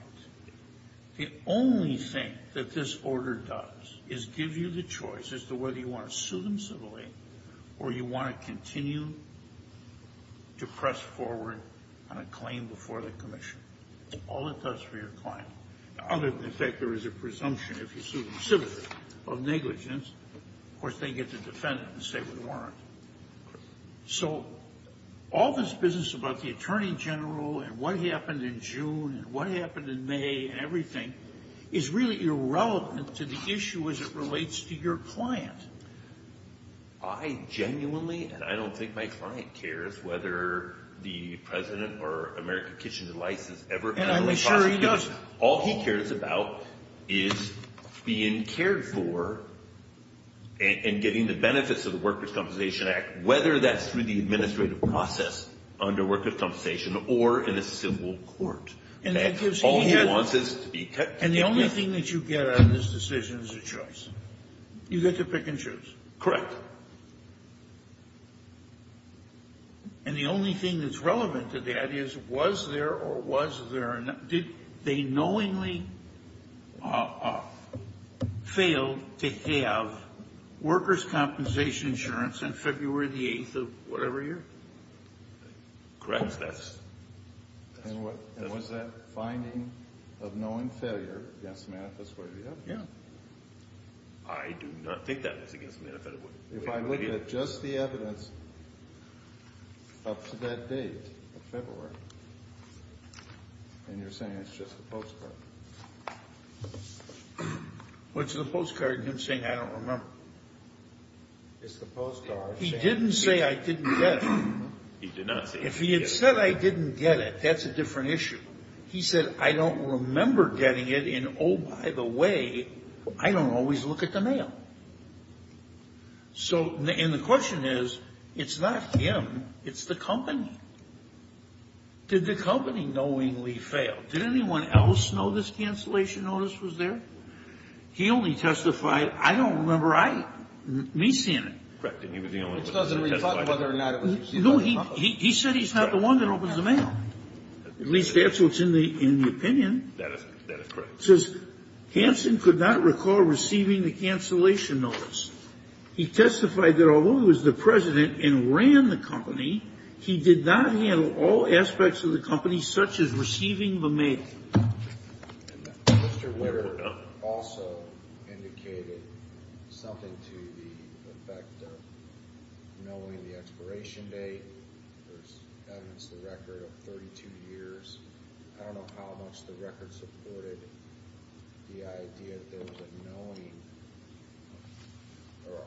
the only thing that this order does is give you the choice as to whether you want to sue them civilly or you want to continue to press forward on a claim before the commission. All it does for your client. Other than, in fact, there is a presumption if you sue them civilly of negligence. Of course, they get to defend it and say we warrant it. So all this business about the attorney general and what happened in June and what happened in May and everything is really irrelevant to the issue as it relates to your client. I genuinely and I don't think my client cares whether the president or American Kitchen and Lice has ever had a repossession case. And I'm sure he does. All he cares about is being cared for and getting the benefits of the Workers' Compensation Act, whether that's through the administrative process under Workers' Compensation or in a civil court. And that gives him. All he wants is to be kept. And the only thing that you get out of this decision is a choice. You get to pick and choose. Correct. And the only thing that's relevant to that is was there or was there not. Did they knowingly fail to have workers' compensation insurance on February the 8th of whatever year? Correct. And was that finding of knowing failure against the manifest way of the evidence? Yeah. I do not think that is against the manifest way of the evidence. If I look at just the evidence up to that date of February and you're saying it's just the postcard. What's the postcard? You're saying I don't remember. It's the postcard. He didn't say I didn't guess. He did not say. If he had said I didn't get it, that's a different issue. He said I don't remember getting it and, oh, by the way, I don't always look at the mail. So and the question is, it's not him, it's the company. Did the company knowingly fail? Did anyone else know this cancellation notice was there? He only testified, I don't remember I, me seeing it. Correct. No, he said he's not the one that opens the mail. At least that's what's in the opinion. That is correct. It says Hanson could not recall receiving the cancellation notice. He testified that although he was the president and ran the company, he did not handle all aspects of the company such as receiving the mail. Mr. Witter also indicated something to the effect of knowing the expiration date. There's evidence in the record of 32 years. I don't know how much the record supported the idea that there was a knowing or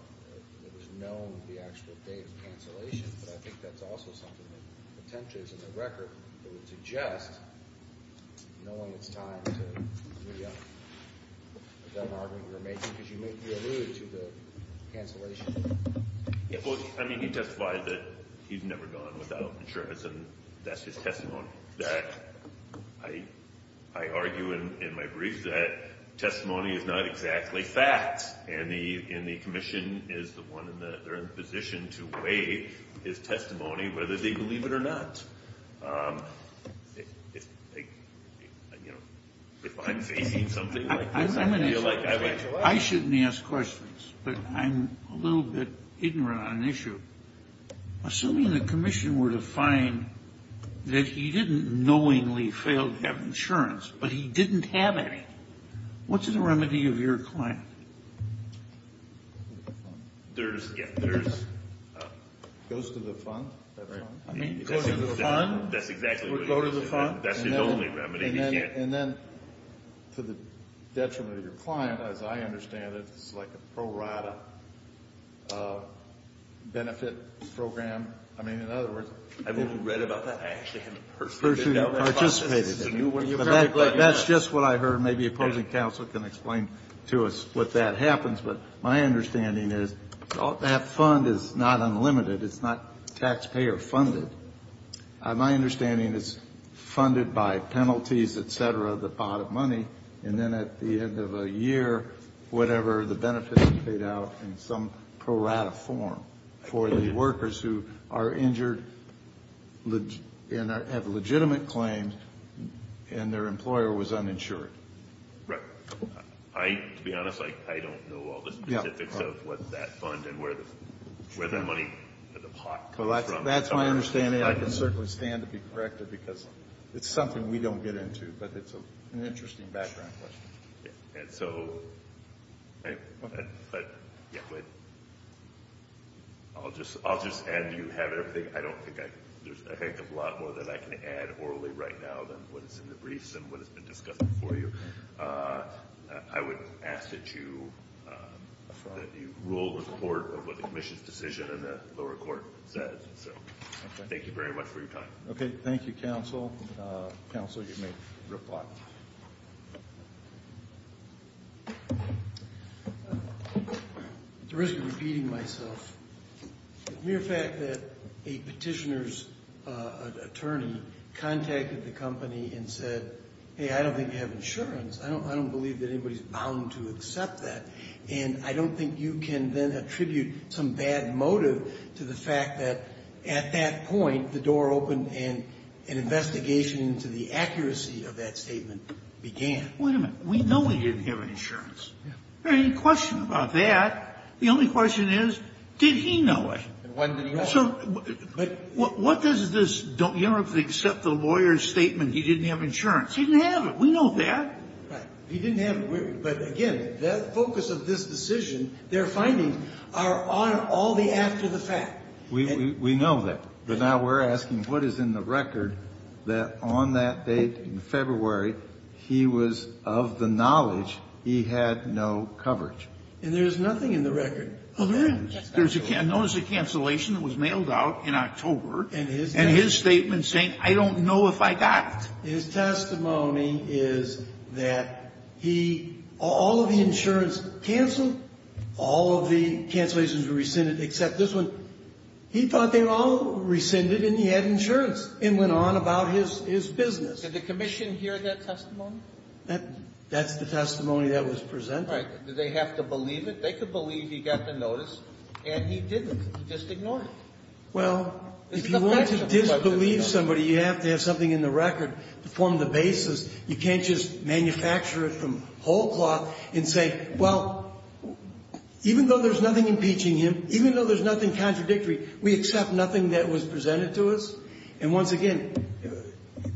it was known the actual date of cancellation, but I think that's also something that potentially is in the record. It would suggest, knowing it's time to react, is that an argument you're making? Because you made me allude to the cancellation. Well, I mean, he testified that he's never gone without insurance and that's his testimony. I argue in my brief that testimony is not exactly facts and the commission is the one in the position to weigh his testimony, whether they believe it or not. If I'm facing something like this, I feel like I have to ask. I shouldn't ask questions, but I'm a little bit ignorant on an issue. Assuming the commission were to find that he didn't knowingly fail to have insurance but he didn't have any, what's the remedy of your claim? There's, yeah, there's. Goes to the fund. Goes to the fund. That's exactly what it is. Would go to the fund. That's his only remedy. And then to the detriment of your client, as I understand it, it's like a pro rata benefit program. I mean, in other words. I've only read about that. I actually haven't heard of it. That's just what I heard. Maybe opposing counsel can explain to us what that happens, but my understanding is that fund is not unlimited. It's not taxpayer funded. My understanding is funded by penalties, et cetera, the pot of money. And then at the end of a year, whatever the benefits are paid out in some pro rata form for the workers who are Right. To be honest, I don't know all the specifics of what that fund and where the money, where the pot comes from. That's my understanding. I can certainly stand to be corrected because it's something we don't get into, but it's an interesting background question. And so I'll just add to you. I don't think there's a heck of a lot more that I can add orally right now than what is in the briefs and what has been discussed before you. I would ask that you rule the court of what the commission's decision in the lower court says. So thank you very much for your time. Okay. Thank you, counsel. Counsel, you may reply. At the risk of repeating myself, mere fact that a petitioner's attorney contacted the company and said, hey, I don't think you have insurance. I don't believe that anybody's bound to accept that. And I don't think you can then attribute some bad motive to the fact that at that point, the door opened and an investigation into the accuracy of that statement began. Wait a minute. We know we didn't have insurance. There's no question about that. The only question is, did he know it? When did he know it? So what does this don't you ever have to accept the lawyer's statement he didn't have insurance? He didn't have it. We know that. Right. He didn't have it. But again, the focus of this decision, their findings are on all the after the fact. We know that. But now we're asking what is in the record that on that date in February, he was of the knowledge he had no coverage. And there's nothing in the record. Oh, there is. There's a cancellation that was mailed out in October. And his statement saying, I don't know if I got it. His testimony is that he, all of the insurance canceled, all of the cancellations were rescinded, except this one. He thought they were all rescinded and he had insurance and went on about his business. Did the commission hear that testimony? That's the testimony that was presented. Did they have to believe it? They could believe he got the notice and he didn't. He just ignored it. Well, if you want to disbelieve somebody, you have to have something in the record to form the basis. You can't just manufacture it from whole cloth and say, well, even though there's nothing impeaching him, even though there's nothing contradictory, we accept nothing that was presented to us. And once again,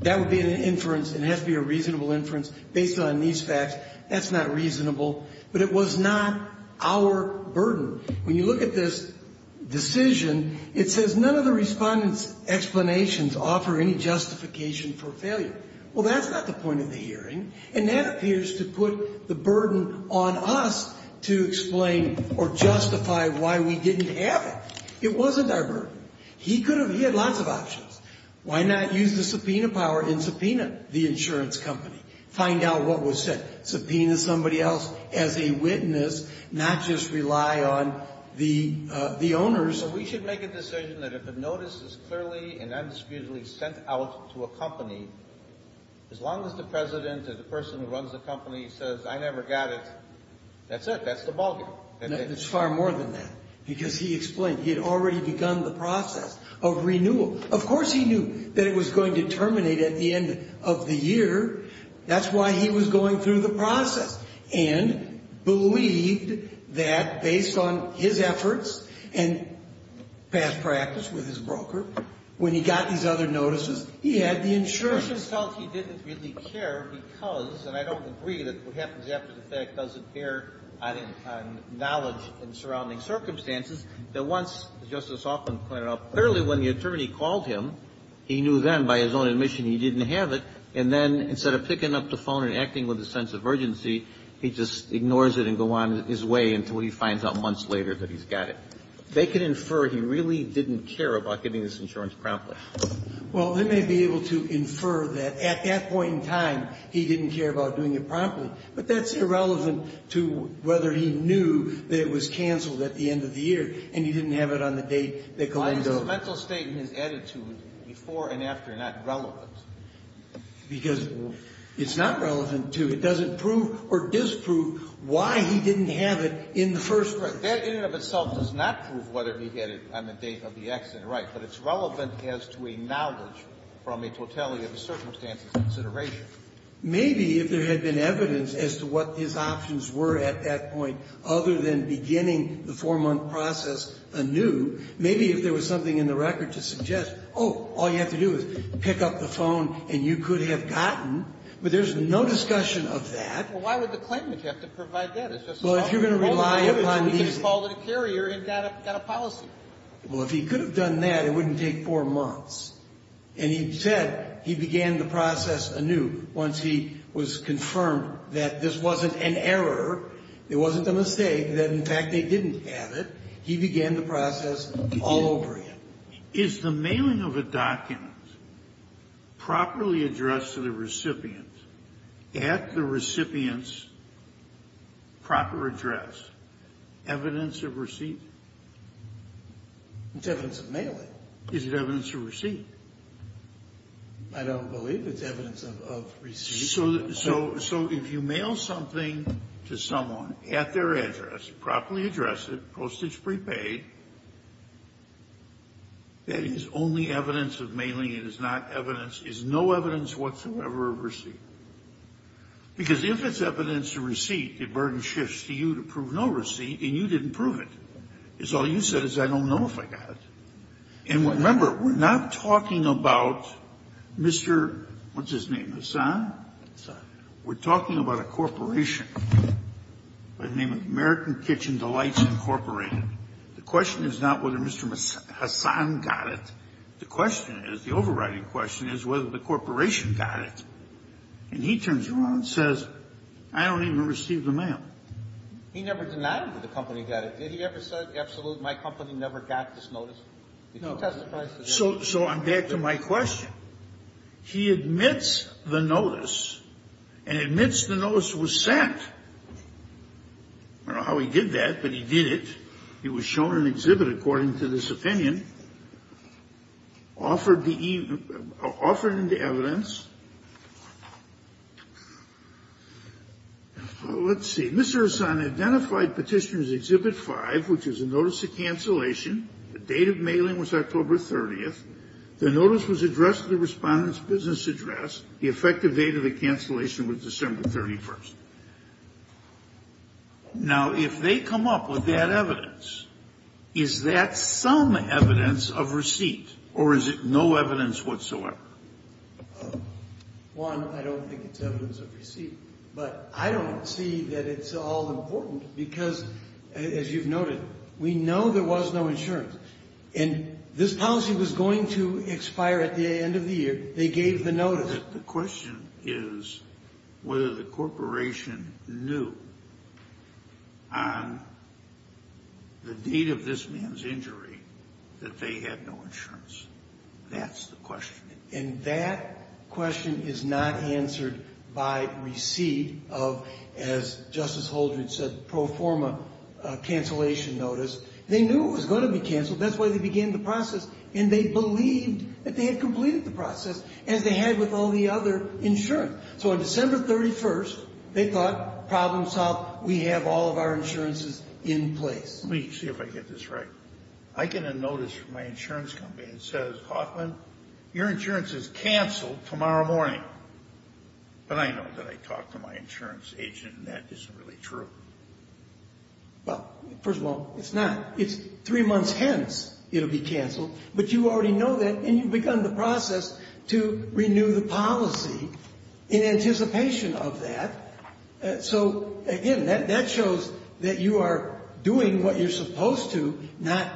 that would be an inference. It has to be a reasonable inference based on these facts. That's not reasonable. But it was not our burden. When you look at this decision, it says none of the respondents' explanations offer any justification for failure. Well, that's not the point of the hearing. And that appears to put the burden on us to explain or justify why we didn't have it. It wasn't our burden. He could have, he had lots of options. Why not use the subpoena power and subpoena the insurance company? Find out what was said. Subpoena somebody else as a witness, not just rely on the owners. We should make a decision that if a notice is clearly and undisputedly sent out to a company, as long as the president or the person who runs the company says, I never got it, that's it. That's the ballgame. It's far more than that. Because he explained, he had already begun the process of renewal. Of course he knew that it was going to terminate at the end of the year. That's why he was going through the process and believed that based on his efforts and past practice with his broker, when he got these other notices, he had the insurance. The question is he didn't really care because, and I don't agree that what happens after the fact doesn't bear on knowledge and surrounding circumstances, that once, as Justice Hoffman pointed out, clearly when the attorney called him, he knew then by his own admission he didn't have it, and then instead of picking up the phone and acting with a sense of urgency, he just ignores it and goes on his way until he finds out months later that he's got it. They can infer he really didn't care about getting this insurance promptly. Well, they may be able to infer that at that point in time he didn't care about doing it promptly, but that's irrelevant to whether he knew that it was canceled at the end of the year and he didn't have it on the date that Galindo. Why is his mental state and his attitude before and after not relevant? Because it's not relevant to, it doesn't prove or disprove why he didn't have it in the first place. That in and of itself does not prove whether he had it on the date of the accident. Right. But it's relevant as to a knowledge from a totality of the circumstances consideration. Maybe if there had been evidence as to what his options were at that point other than beginning the four-month process anew, maybe if there was something in the record to suggest, oh, all you have to do is pick up the phone and you could have gotten, but there's no discussion of that. Well, why would the claimant have to provide that? Well, if you're going to rely upon these. He could have called in a carrier and got a policy. Well, if he could have done that, it wouldn't take four months. And he said he began the process anew once he was confirmed that this wasn't an error, it wasn't a mistake, that in fact they didn't have it. He began the process all over again. Is the mailing of a document properly addressed to the recipient at the recipient's proper address evidence of receipt? It's evidence of mailing. Is it evidence of receipt? I don't believe it's evidence of receipt. So if you mail something to someone at their address, properly address it, postage prepaid, that is only evidence of mailing. It is not evidence. It's no evidence whatsoever of receipt. Because if it's evidence of receipt, the burden shifts to you to prove no receipt, and you didn't prove it. It's all you said is I don't know if I got it. And remember, we're not talking about Mr. What's-his-name, Hassan? Hassan. We're talking about a corporation by the name of American Kitchen Delights, Incorporated. The question is not whether Mr. Hassan got it. The question is, the overriding question is whether the corporation got it. And he turns around and says, I don't even receive the mail. He never denied that the company got it. Did he ever say, absolutely, my company never got this notice? Did you testify to that? No. So I'm back to my question. He admits the notice, and admits the notice was sent. I don't know how he did that, but he did it. It was shown in an exhibit, according to this opinion. Offered the evidence. Let's see. Mr. Hassan identified Petitioner's Exhibit 5, which is a notice of cancellation. The date of mailing was October 30th. The notice was addressed at the Respondent's business address. The effective date of the cancellation was December 31st. Now, if they come up with that evidence, is that some evidence of receipt, or is it no evidence whatsoever? One, I don't think it's evidence of receipt. But I don't see that it's all important, because, as you've noted, we know there was no insurance. And this policy was going to expire at the end of the year. They gave the notice. The question is whether the corporation knew on the date of this man's injury that they had no insurance. That's the question. And that question is not answered by receipt of, as Justice Holdren said, pro forma cancellation notice. They knew it was going to be canceled. That's why they began the process. And they believed that they had completed the process, as they had with all the other insurance. So on December 31st, they thought, problem solved. We have all of our insurances in place. Let me see if I get this right. I get a notice from my insurance company that says, Hoffman, your insurance is canceled tomorrow morning. But I know that I talked to my insurance agent, and that isn't really true. Well, first of all, it's not. It's three months hence it will be canceled. But you already know that, and you've begun the process to renew the policy in anticipation of that. So, again, that shows that you are doing what you're supposed to, not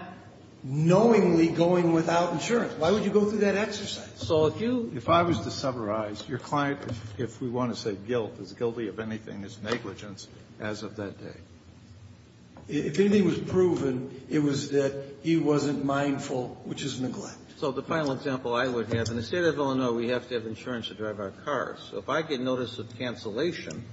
knowingly going without insurance. Why would you go through that exercise? So if you — If I was to summarize, your client, if we want to say guilt, is guilty of anything as negligence as of that day. If anything was proven, it was that he wasn't mindful, which is neglect. So the final example I would have, in the State of Illinois, we have to have insurance to drive our cars. So if I get notice of cancellation,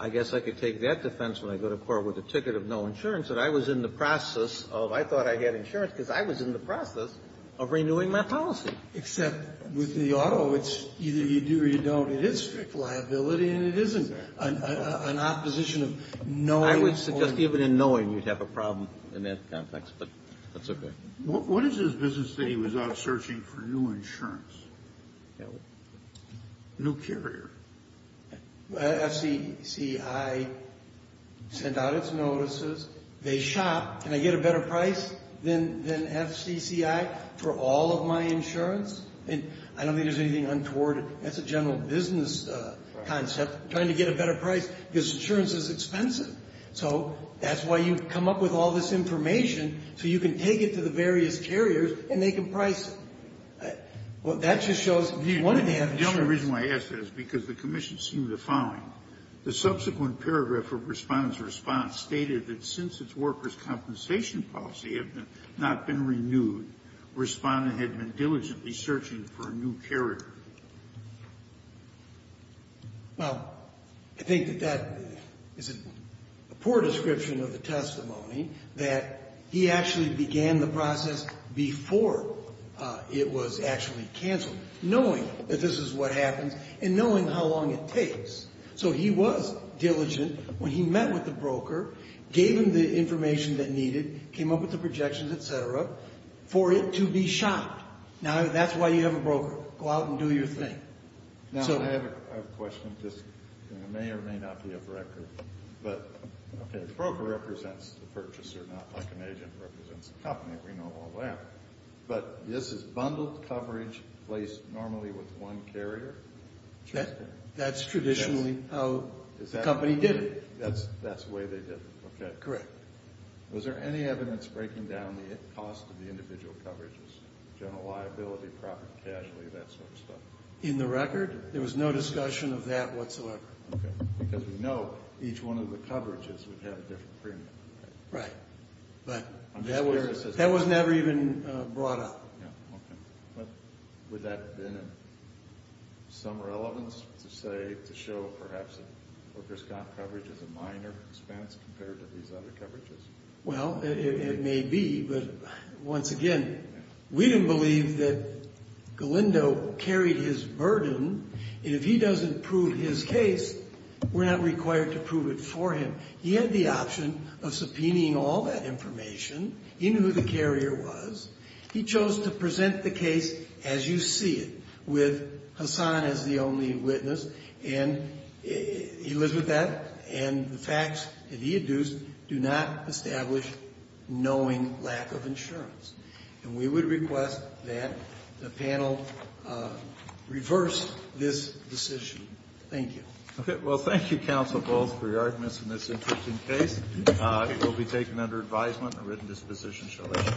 I guess I could take that defense when I go to court with a ticket of no insurance that I was in the process of — I thought I had insurance because I was in the process of renewing my policy. Except with the auto, it's either you do or you don't. It is strict liability, and it isn't an opposition of knowing or — I would suggest even in knowing, you'd have a problem in that context. But that's okay. What is his business that he was out searching for new insurance? New carrier. FCCI sent out its notices. They shop. Can I get a better price than FCCI for all of my insurance? And I don't think there's anything untoward. That's a general business concept, trying to get a better price, because insurance is expensive. So that's why you come up with all this information, so you can take it to the various carriers and they can price it. Well, that just shows — The only reason why I ask that is because the commission seemed to find the subsequent paragraph of Respondent's response stated that since its workers' compensation policy had not been renewed, Respondent had been diligently searching for a new carrier. Well, I think that that is a poor description of the testimony, that he actually began the process before it was actually canceled, knowing that this is what happens and knowing how long it takes. So he was diligent when he met with the broker, gave him the information that needed, came up with the projections, et cetera, for it to be shopped. Now, that's why you have a broker. Go out and do your thing. Now, I have a question. This may or may not be a record. But, okay, the broker represents the purchaser, not like an agent represents a company. We know all that. But this is bundled coverage placed normally with one carrier? That's traditionally how the company did it. That's the way they did it. Okay. Correct. Was there any evidence breaking down the cost of the individual coverages, general liability, profit and casualty, that sort of stuff? In the record, there was no discussion of that whatsoever. Okay. Because we know each one of the coverages would have a different premium. Right. But that was never even brought up. Yeah. Okay. But would that have been of some relevance to say, to show perhaps that broker's coverage is a minor expense compared to these other coverages? Well, it may be. But, once again, we don't believe that Galindo carried his burden. And if he doesn't prove his case, we're not required to prove it for him. He had the option of subpoenaing all that information in who the carrier was. He chose to present the case as you see it with Hassan as the only witness. And he lives with that. And the facts that he adduced do not establish knowing lack of insurance. And we would request that the panel reverse this decision. Thank you. Okay. Well, thank you, counsel, both, for your arguments in this interesting case. It will be taken under advisement. A written disposition shall be issued.